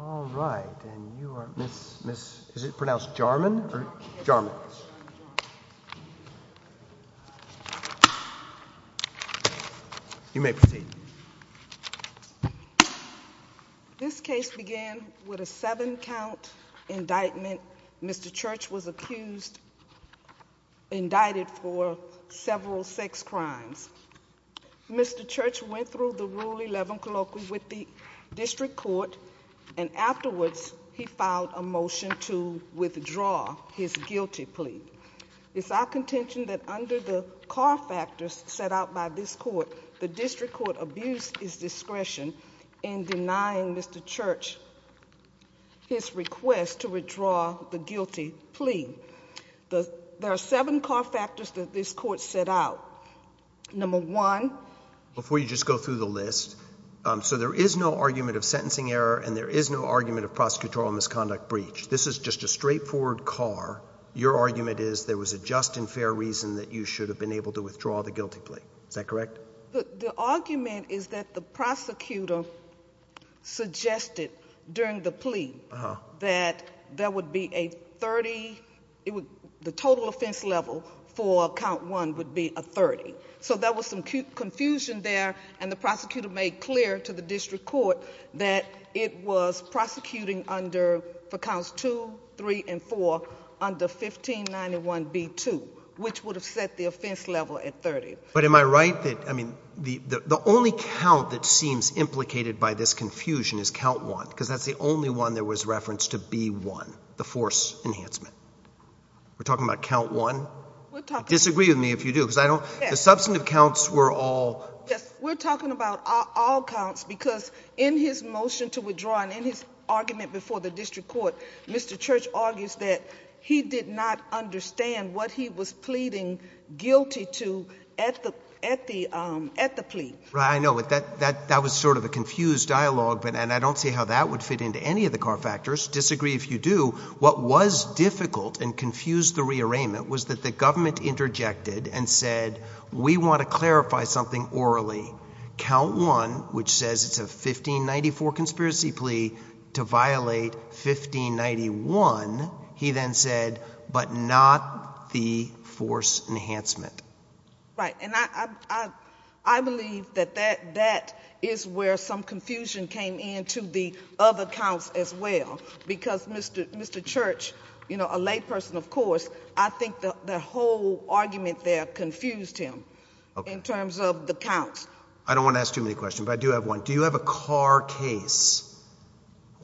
all right and you are miss miss is it pronounced Jarman or Jarman you may proceed this case began with a seven count indictment mr. Church was accused indicted for several sex crimes mr. Church went through the rule 11 colloquially with the district court and afterwards he filed a motion to withdraw his guilty plea it's our contention that under the car factors set out by this court the district court abused his discretion in denying mr. Church his request to withdraw the guilty plea the there are seven car factors that this court set out number one before you just go through the list so there is no argument of sentencing error and there is no argument of prosecutorial misconduct breach this is just a straightforward car your argument is there was a just and fair reason that you should have been able to withdraw the guilty plea is that correct the argument is that the prosecutor suggested during the plea that there would be a 30 it would the total offense level for count one would be a 30 so there was some confusion there and the clear to the district court that it was prosecuting under four counts two three and four under 1591 b2 which would have set the offense level at 30 but am I right that I mean the the only count that seems implicated by this confusion is count one because that's the only one there was reference to be one the force enhancement we're talking about count one disagree with me if you do because I substantive counts were all we're talking about all counts because in his motion to withdraw and in his argument before the district court mr. Church argues that he did not understand what he was pleading guilty to at the at the at the plea right I know it that that that was sort of a confused dialogue but and I don't see how that would fit into any of the car factors disagree if you do what was difficult and confuse the rearrangement was that the government interjected and said we want to clarify something orally count one which says it's a 1594 conspiracy plea to violate 1591 he then said but not the force enhancement right and I I believe that that that is where some confusion came into the other counts as well because mr. mr. Church you know a lay person of course I think that the whole argument there confused him in terms of the counts I don't want to ask too many questions I do have one do you have a car case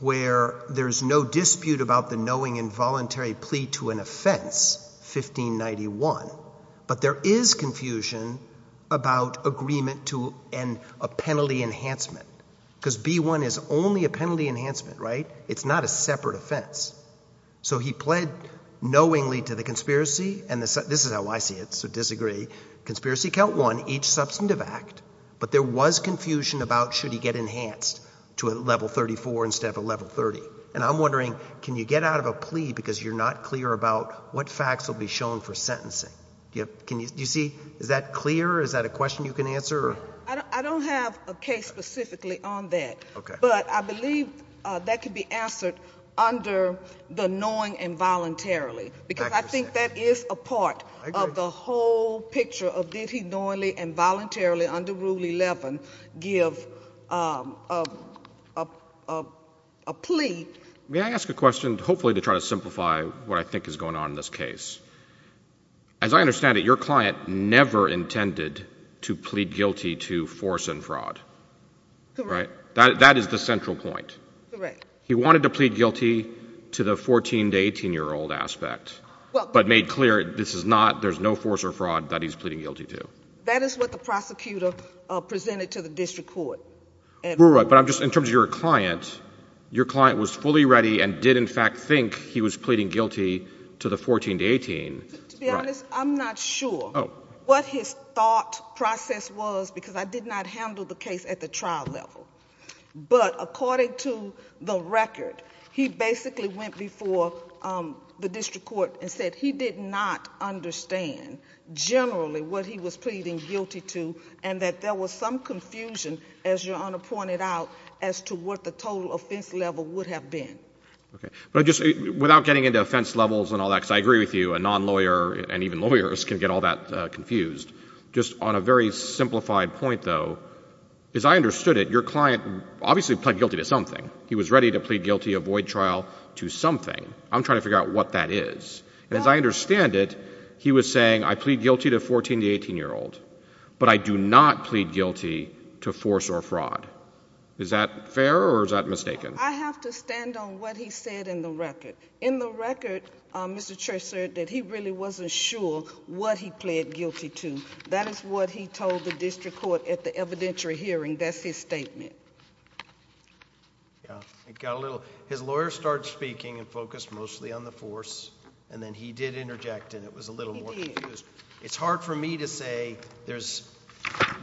where there's no dispute about the knowing involuntary plea to an offense 1591 but there is confusion about agreement to end a penalty enhancement because b1 is only a penalty enhancement right it's not a separate offense so he pled knowingly to the conspiracy and this is how I see it so disagree conspiracy count one each substantive act but there was confusion about should he get enhanced to a level 34 instead of a level 30 and I'm wondering can you get out of a plea because you're not clear about what facts will be shown for sentencing yep can you see is that clear is that a question you can answer I don't have a case specifically on that okay but I believe that could be answered under the knowing involuntarily because I think that is a part of the whole picture of did he knowingly and voluntarily under rule 11 give a plea may I ask a question hopefully to try to simplify what I think is going on in this case as I understand it your client never intended to plead guilty to force and fraud right that is the central point he wanted to plead guilty to the 14 to 18 year old aspect but made clear this is not there's no force or fraud that he's pleading guilty to that is what the prosecutor presented to the district court and we're right but I'm just in terms of your client your client was fully ready and did in fact think he was thought process was because I did not handle the case at the trial level but according to the record he basically went before the district court and said he did not understand generally what he was pleading guilty to and that there was some confusion as your honor pointed out as to what the total offense level would have been okay but just without getting into offense levels and all that because I agree with you a non-lawyer and even lawyers can get all that confused just on a very simplified point though as I understood it your client obviously pled guilty to something he was ready to plead guilty avoid trial to something I'm trying to figure out what that is and as I understand it he was saying I plead guilty to 14 to 18 year old but I do not plead guilty to force or fraud is that fair or is that mistaken in the record mr. church sir that he really wasn't sure what he pled guilty to that is what he told the district court at the evidentiary hearing that's his statement yeah it got a little his lawyer started speaking and focused mostly on the force and then he did interject and it was a little more confused it's hard for me to say there's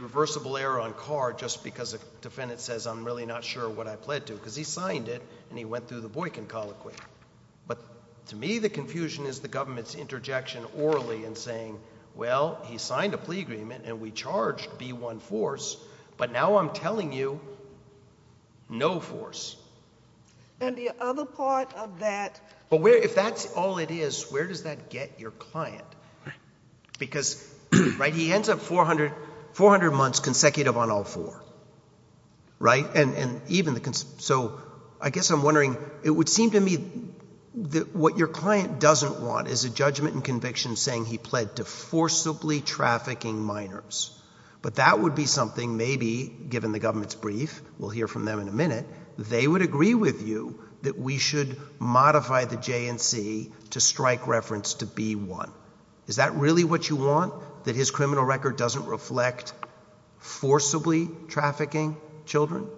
reversible error on car just because a defendant says I'm really not sure what I pled to because he signed it and he went through the confusion is the government's interjection orally and saying well he signed a plea agreement and we charged be one force but now I'm telling you no force and the other part of that but where if that's all it is where does that get your client because right he ends up 400 400 months consecutive on all four right and and even the consent so I guess I'm wondering it would seem to me that what your client doesn't want is a judgment and conviction saying he pled to forcibly trafficking minors but that would be something maybe given the government's brief we'll hear from them in a minute they would agree with you that we should modify the J&C to strike reference to be one is that really what you want that his criminal record doesn't reflect forcibly trafficking children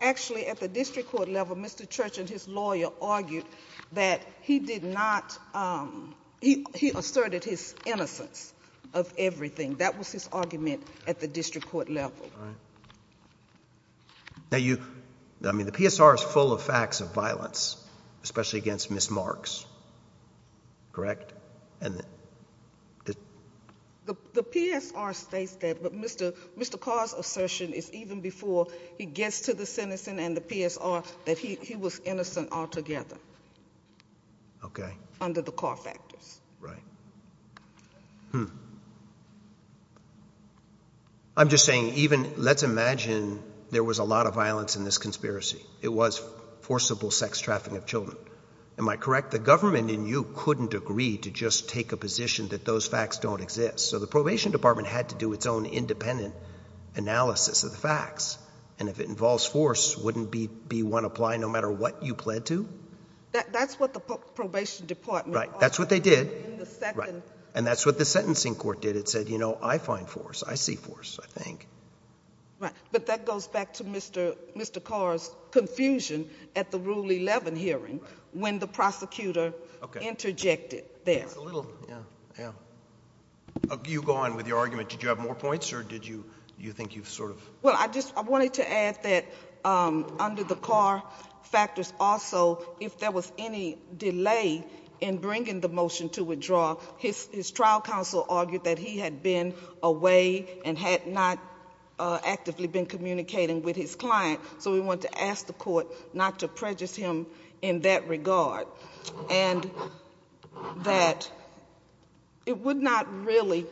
actually at the district court level mr. Church and his lawyer argued that he did not he asserted his innocence of everything that was his argument at the district court level now you I mean the PSR is full of facts of violence especially against miss marks correct and the PSR states that but mr. mr. cars assertion is even before he gets to the citizen and the PSR that he was innocent altogether okay under the car factors right I'm just saying even let's imagine there was a lot of violence in this conspiracy it was forcible sex trafficking of children am I correct the government in you couldn't agree to just take a position that those facts don't exist so the probation department had to do its own independent analysis of the facts and if involves force wouldn't be be one apply no matter what you pled to that's what the probation department right that's what they did right and that's what the sentencing court did it said you know I find force I see force I think right but that goes back to mr. mr. cars confusion at the rule 11 hearing when the prosecutor interjected there you go on with your argument did you have more points or did you you think you sort of well I just wanted to add that under the car factors also if there was any delay in bringing the motion to withdraw his trial counsel argued that he had been away and had not actively been communicating with his client so we want to ask the court not to prejudice him in that regard and that it would not really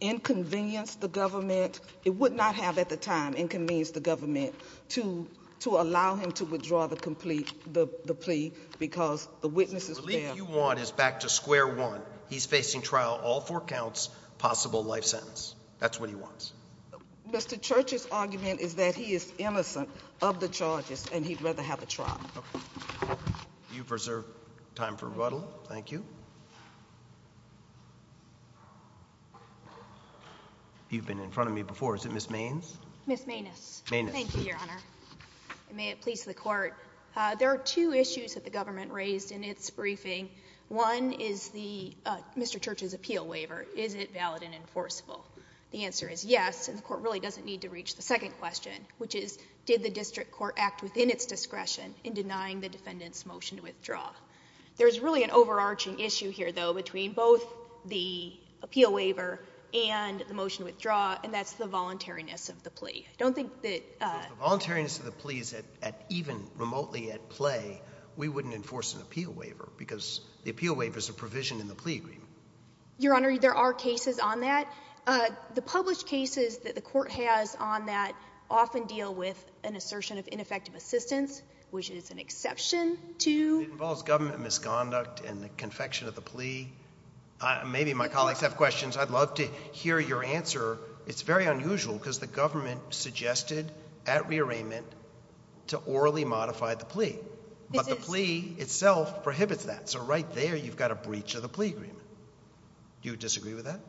inconvenience the government it would not have at the time inconvenience the government to to allow him to withdraw the complete the plea because the witnesses you want is back to square one he's facing trial all four counts possible life sentence that's what he wants mr. churches argument is that he is innocent of the charges and he'd you preserve time for a little thank you you've been in front of me before is it miss means miss maintenance thank you your honor may it please the court there are two issues that the government raised in its briefing one is the mr. churches appeal waiver is it valid and enforceable the answer is yes and the court really doesn't need to reach the second question which is did the district court act within its discretion in denying the defendants motion to withdraw there's really an overarching issue here though between both the appeal waiver and the motion withdraw and that's the voluntariness of the plea I don't think that the voluntariness of the pleas that at even remotely at play we wouldn't enforce an appeal waiver because the appeal waiver is a provision in the plea agreement your honor there are cases on that the published cases that the court has on that often deal with an assertion of ineffective assistance which is an exception to government misconduct and the confection of the plea maybe my colleagues have questions I'd love to hear your answer it's very unusual because the government suggested at rearrangement to orally modify the plea but the plea itself prohibits that so right there you've got a breach of the plea agreement do you disagree with that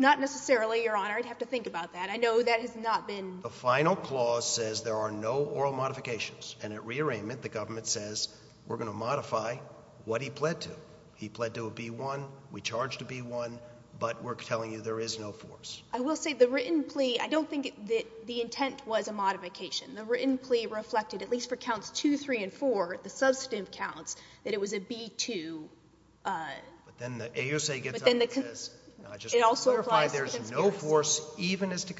not necessarily your honor I'd have to think about that I final clause says there are no oral modifications and at rearrangement the government says we're going to modify what he pled to he pled to a b1 we charged to be one but we're telling you there is no force I will say the written plea I don't think that the intent was a modification the written plea reflected at least for counts 2 3 & 4 the substantive counts that it was a b2 then the AUSA gets in the case it also applies there's no force even as to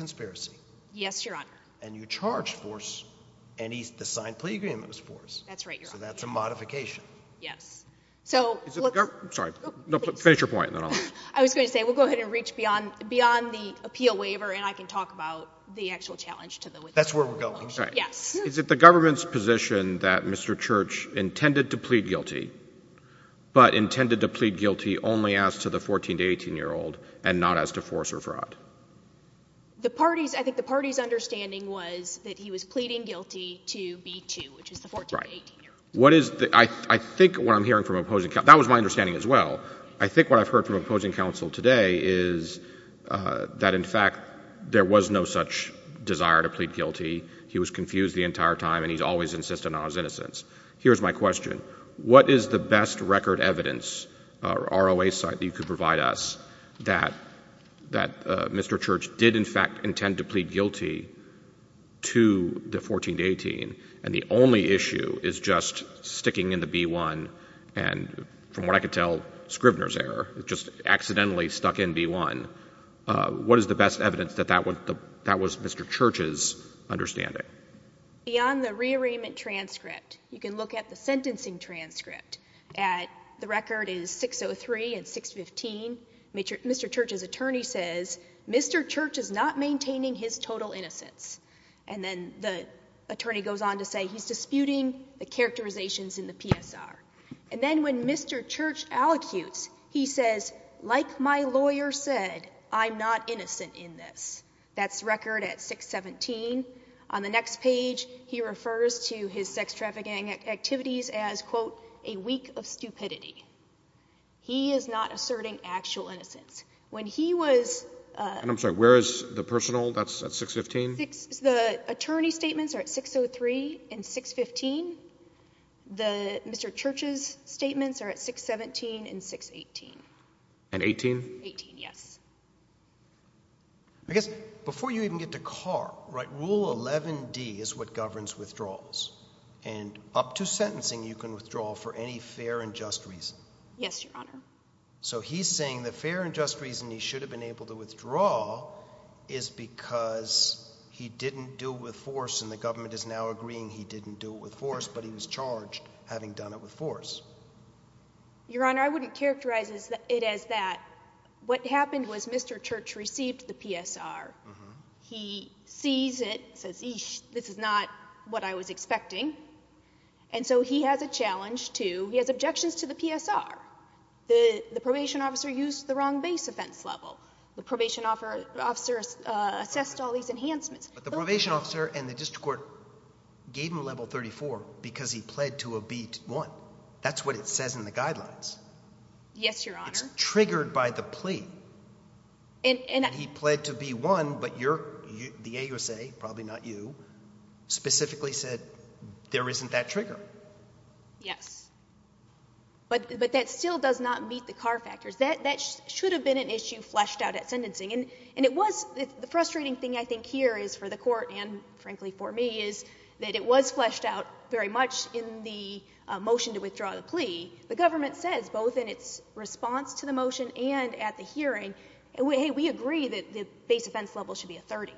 and you charge force and he's the signed plea agreement was forced that's right so that's a modification yes so sorry no finish your point I was going to say we'll go ahead and reach beyond beyond the appeal waiver and I can talk about the actual challenge to the that's where we're going yes is it the government's position that mr. Church intended to plead guilty but intended to plead guilty only asked to the 14 to 18 year old and not as to force or fraud the party's I think the party's understanding was that he was pleading guilty to be to which is the right what is the I think what I'm hearing from opposing that was my understanding as well I think what I've heard from opposing counsel today is that in fact there was no such desire to plead guilty he was confused the entire time and he's always insisted on his innocence here's my question what is the best record evidence ROA site you could provide us that that mr. Church did in fact intend to plead guilty to the 14 to 18 and the only issue is just sticking in the b1 and from what I could tell Scrivener's error just accidentally stuck in b1 what is the best evidence that that was the that was mr. Church's understanding beyond the rearrangement transcript you can look at the sentencing transcript at the record is 603 and 615 major mr. Church's attorney says mr. Church is not maintaining his total innocence and then the attorney goes on to say he's disputing the characterizations in the PSR and then when mr. Church allocutes he says like my lawyer said I'm not innocent in this that's record at 617 on the next page he refers to his sex trafficking activities as quote a week of stupidity he is not asserting actual innocence when he was I'm sorry where is the personal that's at 615 the attorney statements are at 603 and 615 the mr. Church's statements are at 617 and 618 and 18 18 yes I guess before you even get to car right rule 11 D is what governs withdrawals and up to sentencing you can withdraw for any fair and just reason yes your honor so he's saying the fair and just reason he should have been able to withdraw is because he didn't do it with force and the government is now agreeing he didn't do it with force but he was charged having done it with force your honor I wouldn't characterize it as that what happened was mr. Church received the PSR he sees it says this is not what I was expecting and so he has a challenge to he has objections to the PSR the the probation officer used the wrong base offense level the probation offer officers assessed all these enhancements the probation officer and the district court gave him a level 34 because he pled to a beat one that's what it says in the guidelines yes your honor triggered by the plea and he pled to be one but you're the AUSA probably not you specifically said there isn't that trigger yes but but that still does not meet the car factors that that should have been an issue fleshed out at sentencing and and it was the frustrating thing I think here is for the court and frankly for me is that it was fleshed out very much in the motion to withdraw the plea the government says both in its response to the motion and at the hearing and we agree that the base offense level should be a 30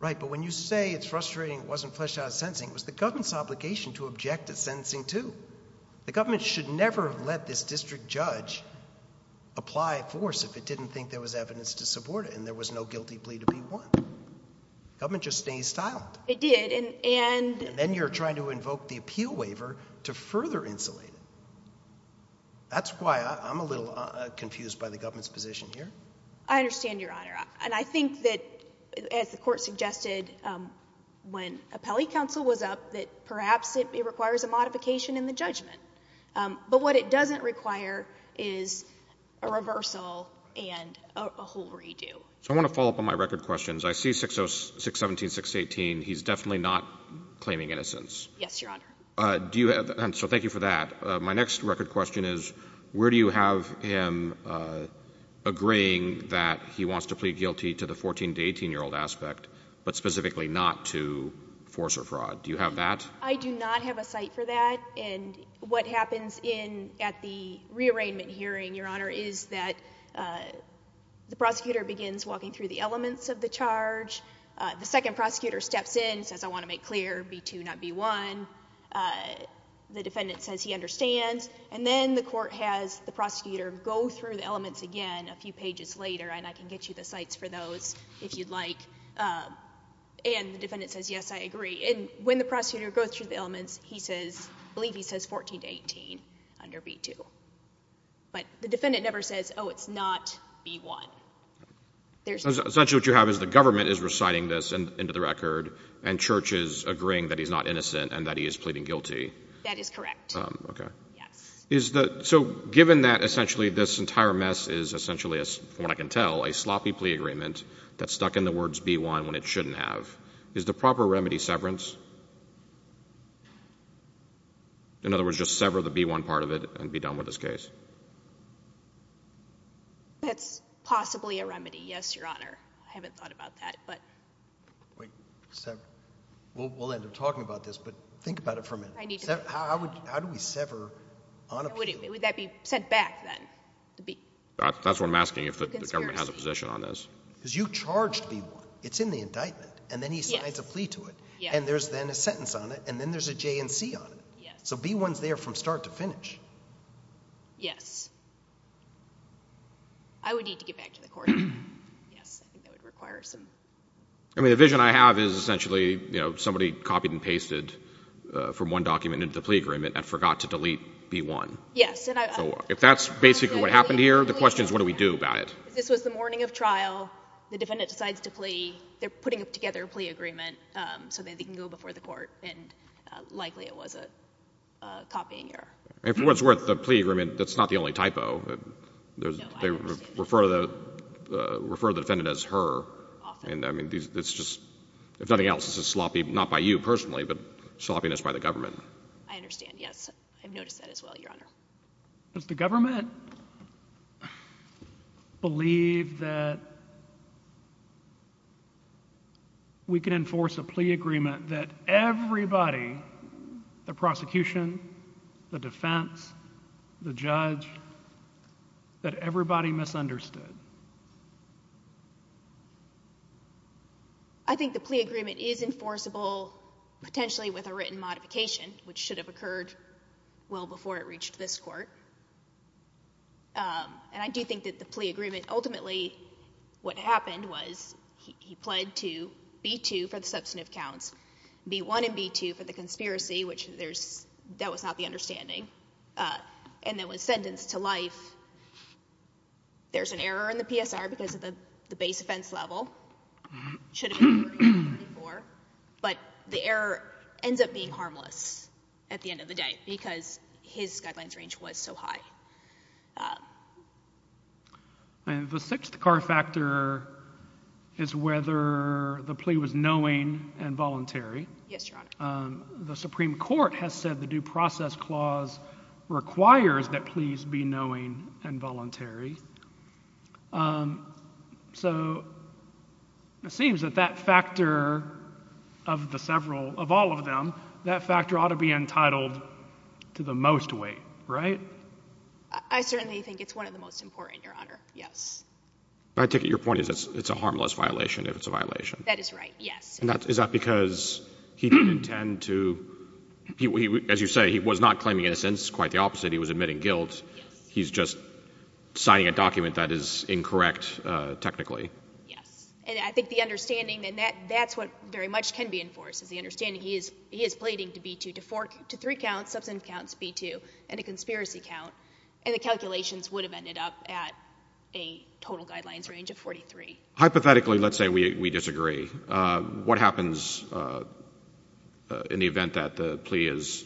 right but when you say it's frustrating it wasn't fleshed out of sentencing was the government's obligation to object to sentencing to the government should never have let this district judge apply force if it didn't think there was evidence to support it and there was no you're trying to invoke the appeal waiver to further insulate that's why I'm a little confused by the government's position here I understand your honor and I think that as the court suggested when a Pelley counsel was up that perhaps it requires a modification in the judgment but what it doesn't require is a reversal and a whole redo so I want to follow up on my record questions I see 606 17 618 he's definitely not claiming innocence yes your honor do you have so thank you for that my next record question is where do you have him agreeing that he wants to plead guilty to the 14 to 18 year old aspect but specifically not to force or fraud do you have that I do not have a site for that and what happens in at the rearrangement hearing your honor is that the prosecutor begins walking through the elements of the charge the second prosecutor steps in says I want to make clear b2 not b1 the defendant says he understands and then the court has the prosecutor go through the elements again a few pages later and I can get you the sites for those if you'd like and the defendant says yes I agree and when the prosecutor goes through the elements he says believe he says 14 to 18 under b2 but the defendant never says oh it's not b1 essentially what you have is the government is reciting this and into the record and churches agreeing that he's not innocent and that he is pleading guilty that is correct okay is that so given that essentially this entire mess is essentially as what I can tell a sloppy plea agreement that's stuck in the words b1 when it shouldn't have is the proper remedy severance in other words just sever the b1 part of it and be done with this case that's possibly a remedy yes your honor I haven't thought about that but we'll end up talking about this but think about it for a minute how would how do we sever would that be sent back then that's what I'm asking if the government has a position on this because you charged b1 it's in the indictment and then he signs a plea to it and there's then a sentence on it and yes I would need to get back to the court I mean the vision I have is essentially you know somebody copied and pasted from one document into the plea agreement and forgot to delete b1 yes if that's basically what happened here the question is what do we do about it this was the morning of trial the defendant decides to plea they're putting up together a plea agreement so that they can go before the court and likely it was a copying error if it was worth the only typo there's they refer to the refer the defendant as her and I mean it's just if nothing else this is sloppy not by you personally but sloppiness by the government I understand yes I've noticed that as well your honor does the government believe that we can enforce a plea agreement that everybody the that everybody misunderstood I think the plea agreement is enforceable potentially with a written modification which should have occurred well before it reached this court and I do think that the plea agreement ultimately what happened was he pled to b2 for the substantive counts b1 and b2 for the conspiracy which there's that was not the understanding and that was sentenced to life there's an error in the PSR because of the the base offense level but the error ends up being harmless at the end of the day because his guidelines range was so high and the sixth car factor is whether the plea was knowing and voluntary yes the Supreme Court has said the due process clause requires that please be knowing and voluntary so it seems that that factor of the several of all of them that factor ought to be entitled to the most weight right I certainly think it's one of the most important your honor yes I take it your point is it's a harmless violation if it's a violation that is right yes and that is that because he didn't tend to he as you say he was not claiming innocence quite the opposite he was admitting guilt he's just signing a document that is incorrect technically yes and I think the understanding and that that's what very much can be enforced as the understanding he is he is pleading to b2 to fork to three counts substantive counts b2 and a conspiracy count and the calculations would have hypothetically let's say we disagree what happens in the event that the plea is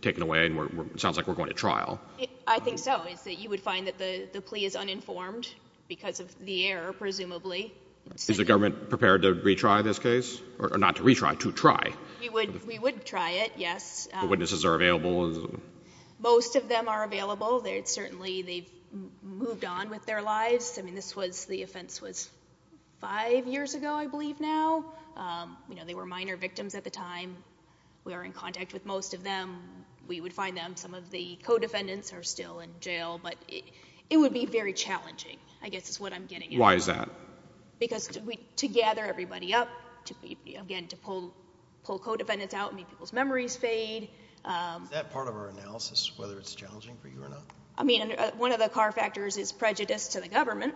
taken away and we're sounds like we're going to trial I think so is that you would find that the the plea is uninformed because of the error presumably is the government prepared to retry this case or not to retry to try you would we would try it yes witnesses are available most of them are available they'd certainly they've moved on with their lives I mean this was the offense was five years ago I believe now you know they were minor victims at the time we are in contact with most of them we would find them some of the co-defendants are still in jail but it would be very challenging I guess is what I'm getting why is that because we to gather everybody up to be again to pull pull co-defendants out me people's memories fade that part of our analysis whether it's challenging for you or not I mean one of the car factors is prejudice to the government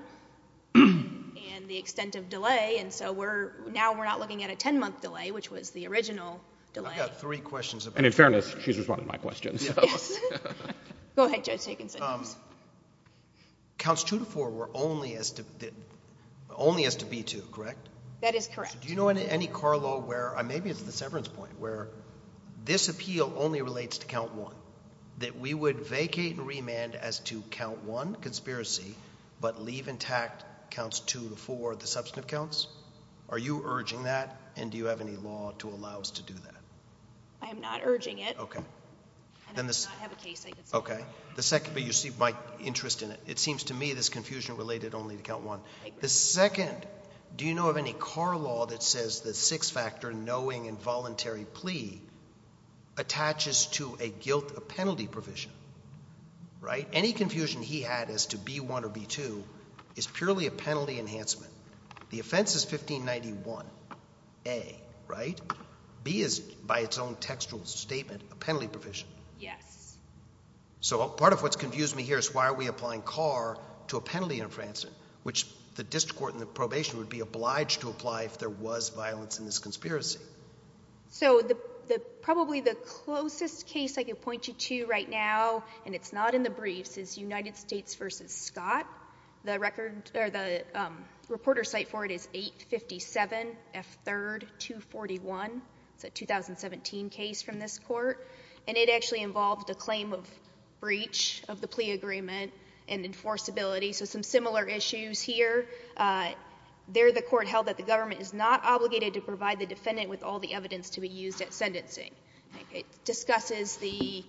and the extent of delay and so we're now we're not looking at a 10-month delay which was the original three questions and in fairness she's responding my questions counts two to four were only as to only as to be to correct that is correct do you know in any car law where I maybe it's the severance point where this appeal only relates to count one that we would vacate remand as to count one conspiracy but leave intact counts two to four the substantive counts are you urging that and do you have any law to allow us to do that I'm not urging it okay then this okay the second but you see my interest in it it seems to me this confusion related only to count one the second do knowing involuntary plea attaches to a guilt a penalty provision right any confusion he had as to be one or be two is purely a penalty enhancement the offense is 1591 a right B is by its own textual statement a penalty provision yes so part of what's confused me here is why are we applying car to a penalty in France in which the district court in the probation would be obliged to apply if there was violence in this conspiracy so the probably the closest case I could point you to right now and it's not in the briefs is United States versus Scott the record or the reporter site for it is 857 f3rd 241 it's a 2017 case from this court and it actually involved a claim of breach of the plea agreement and enforceability so some similar issues here they're the court held that the government is not obligated to provide the defendant with all the evidence to be used at sentencing it discusses the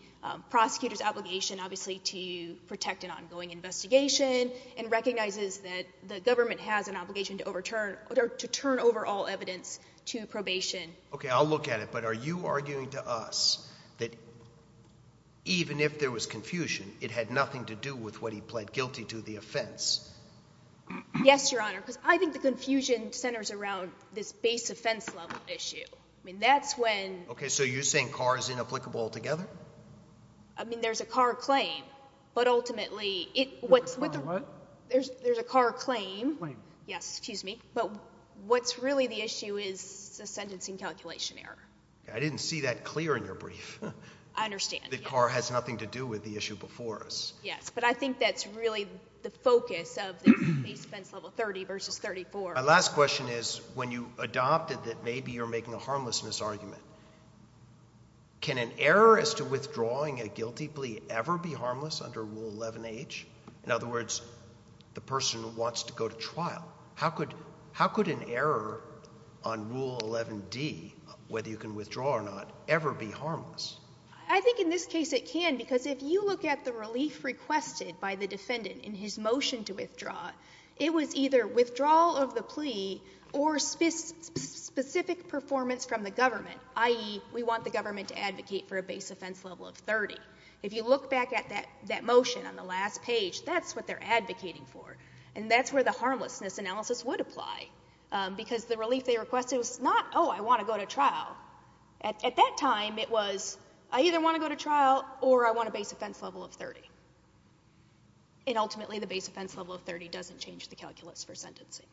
prosecutor's obligation obviously to protect an ongoing investigation and recognizes that the government has an obligation to overturn or to turn over all evidence to probation okay I'll look at it but are you arguing to us that even if there was confusion it had nothing to do with what he pled guilty to the offense yes your confusion centers around this base offense level issue I mean that's when okay so you're saying car is inapplicable together I mean there's a car claim but ultimately it what's what there's there's a car claim yes excuse me but what's really the issue is a sentencing calculation error I didn't see that clear in your brief I understand the car has nothing to do with the issue before us yes but I think that's really the focus of 30 versus 34 my last question is when you adopted that maybe you're making a harmlessness argument can an error as to withdrawing a guilty plea ever be harmless under rule 11 H in other words the person who wants to go to trial how could how could an error on rule 11 D whether you can withdraw or not ever be harmless I think in this case it can because if you look at the relief requested by the defendant in his motion to withdraw it was either withdrawal of the plea or specific performance from the government ie we want the government to advocate for a base offense level of 30 if you look back at that that motion on the last page that's what they're advocating for and that's where the harmlessness analysis would apply because the relief they requested was not oh I want to go to trial at that time it was I either want to go to trial or I want to base offense level of 30 and ultimately the base offense level of 30 doesn't change the calculus for sentencing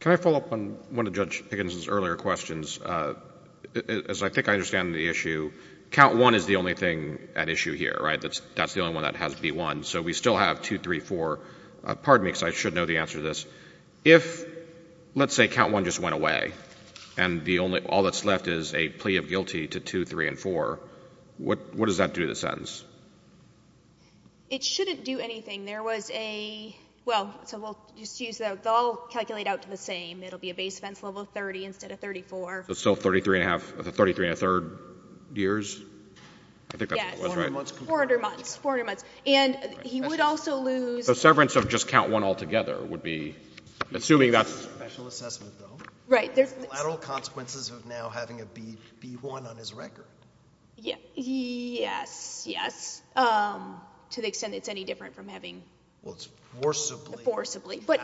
can I follow up on one of Judge Higgins's earlier questions as I think I understand the issue count one is the only thing at issue here right that's that's the only one that has b1 so we still have two three four pardon me because I should know the answer to this if let's say count one just went away and the only all that's left is a plea of guilty to three and four what what does that do the sentence it shouldn't do anything there was a well so we'll just use that they'll calculate out to the same it'll be a base fence level of 30 instead of 34 so 33 and a half 33 and a third years and he would also lose the severance of just count one altogether would be assuming that's right there's lateral consequences of now having a b1 on his record yeah yes yes to the extent it's any different from having what's forcibly forcibly but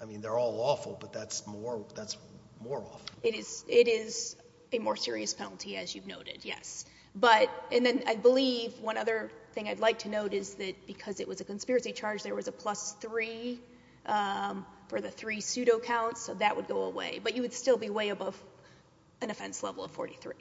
I mean they're all awful but that's more that's more it is it is a more serious penalty as you've noted yes but and then I believe one other thing I'd like to note is that because it was a conspiracy charge there was a plus three for the three pseudo counts so that would go away but you would still be way above an offense level of 43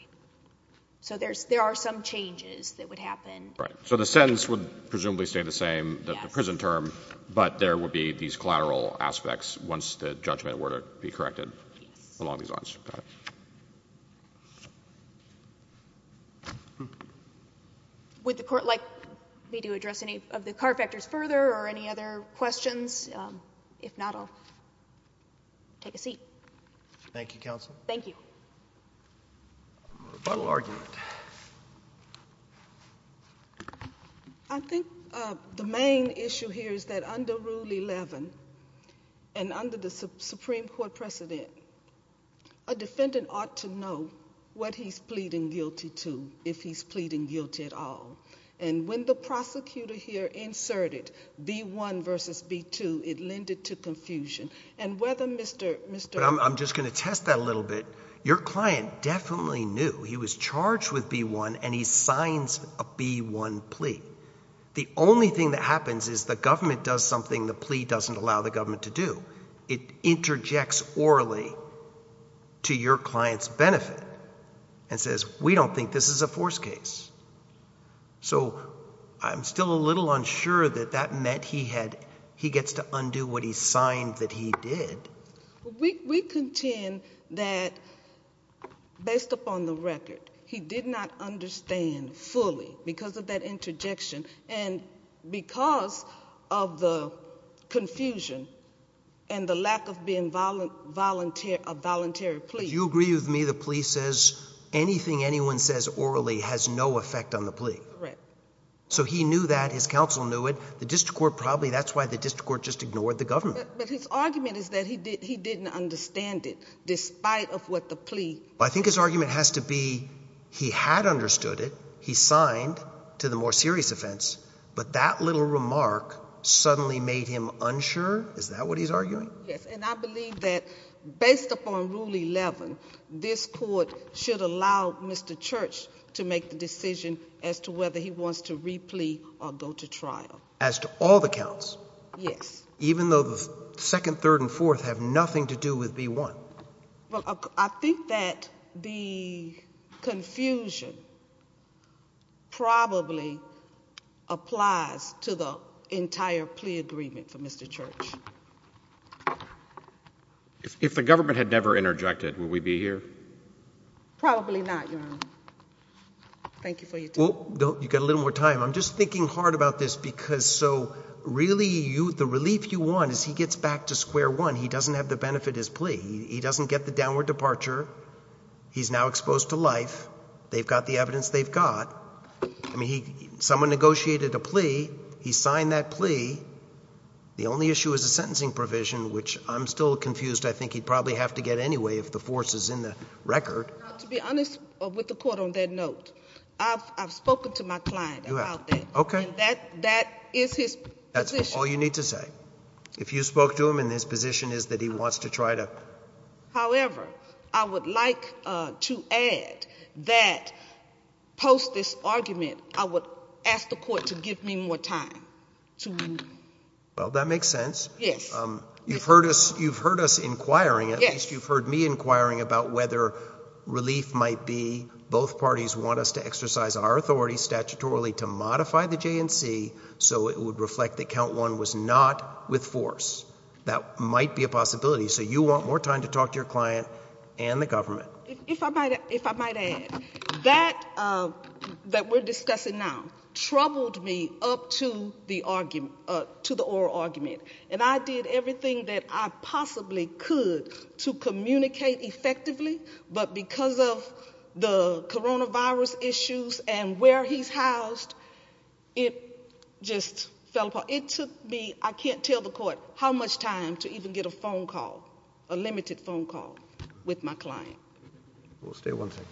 so there's there are some changes that would happen right so the sentence would presumably stay the same that the prison term but there would be these collateral aspects once the judgment were to be corrected along these lines with the court like me to address any of the car factors further or any other questions if not I'll take a seat Thank You counsel thank you argument I think the main issue here is that under rule 11 and under the Supreme Court precedent a defendant ought to know what he's pleading guilty to if he's pleading guilty at all and when the prosecutor here inserted b1 versus b2 it lended to confusion and whether mr. mr. I'm just gonna test that a little bit your client definitely knew he was charged with b1 and he signs a b1 plea the only thing that happens is the government does something the plea doesn't allow the government to do it interjects orally to your clients benefit and says we don't think this is a forced case so I'm still a little unsure that that meant he had he gets to undo what he signed that he did we contend that based upon the record he did not understand fully because of that and the lack of being violent volunteer a voluntary plea you agree with me the police says anything anyone says orally has no effect on the plea so he knew that his counsel knew it the district court probably that's why the district court just ignored the government but his argument is that he did he didn't understand it despite of what the plea I think his argument has to be he had understood it he signed to the more serious offense but that little remark suddenly made him unsure is that what he's arguing yes and I believe that based upon rule 11 this court should allow mr. Church to make the decision as to whether he wants to replete or go to trial as to all the counts yes even though the second third and fourth have nothing to do with b1 well I think that the confusion probably applies to the entire plea agreement for mr. Church if the government had never interjected will we be here probably not thank you for you don't you got a little more time I'm just thinking hard about this because so really you the relief you want is he gets back to square one he doesn't get the downward departure he's now exposed to life they've got the evidence they've got me someone negotiated a plea he signed that plea the only issue is a sentencing provision which I'm still confused I think he'd probably have to get anyway if the force is in the record I've spoken to my client okay that that is his that's all you need to say if you spoke to him in his position is that he wants to try to however I would like to add that post this argument I would ask the court to give me more time to well that makes sense yes you've heard us you've heard us inquiring yes you've heard me inquiring about whether relief might be both parties want us to exercise our authority statutorily to modify the JNC so it would reflect that count one was not with force that might be a possibility so you want more time to talk to your client and the government if I might if I might add that that we're discussing now troubled me up to the argument to the oral argument and I did everything that I possibly could to communicate effectively but because of the coronavirus issues and where he's it just fell apart it took me I can't tell the court how much time to even get a phone call a limited phone call with my client we'll stay one second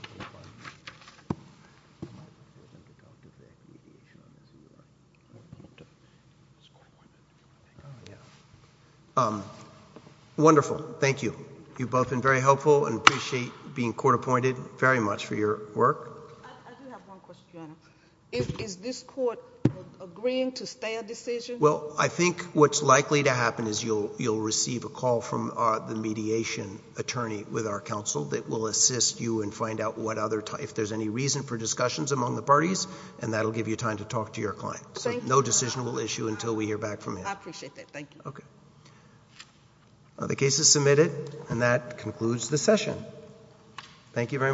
wonderful thank you you've both been very helpful and appreciate being court-appointed very much for your work well I think what's likely to happen is you'll you'll receive a call from the mediation attorney with our counsel that will assist you and find out what other time if there's any reason for discussions among the parties and that'll give you time to talk to your client so no decision will issue until we hear back from you okay the case is adjourned thank you very much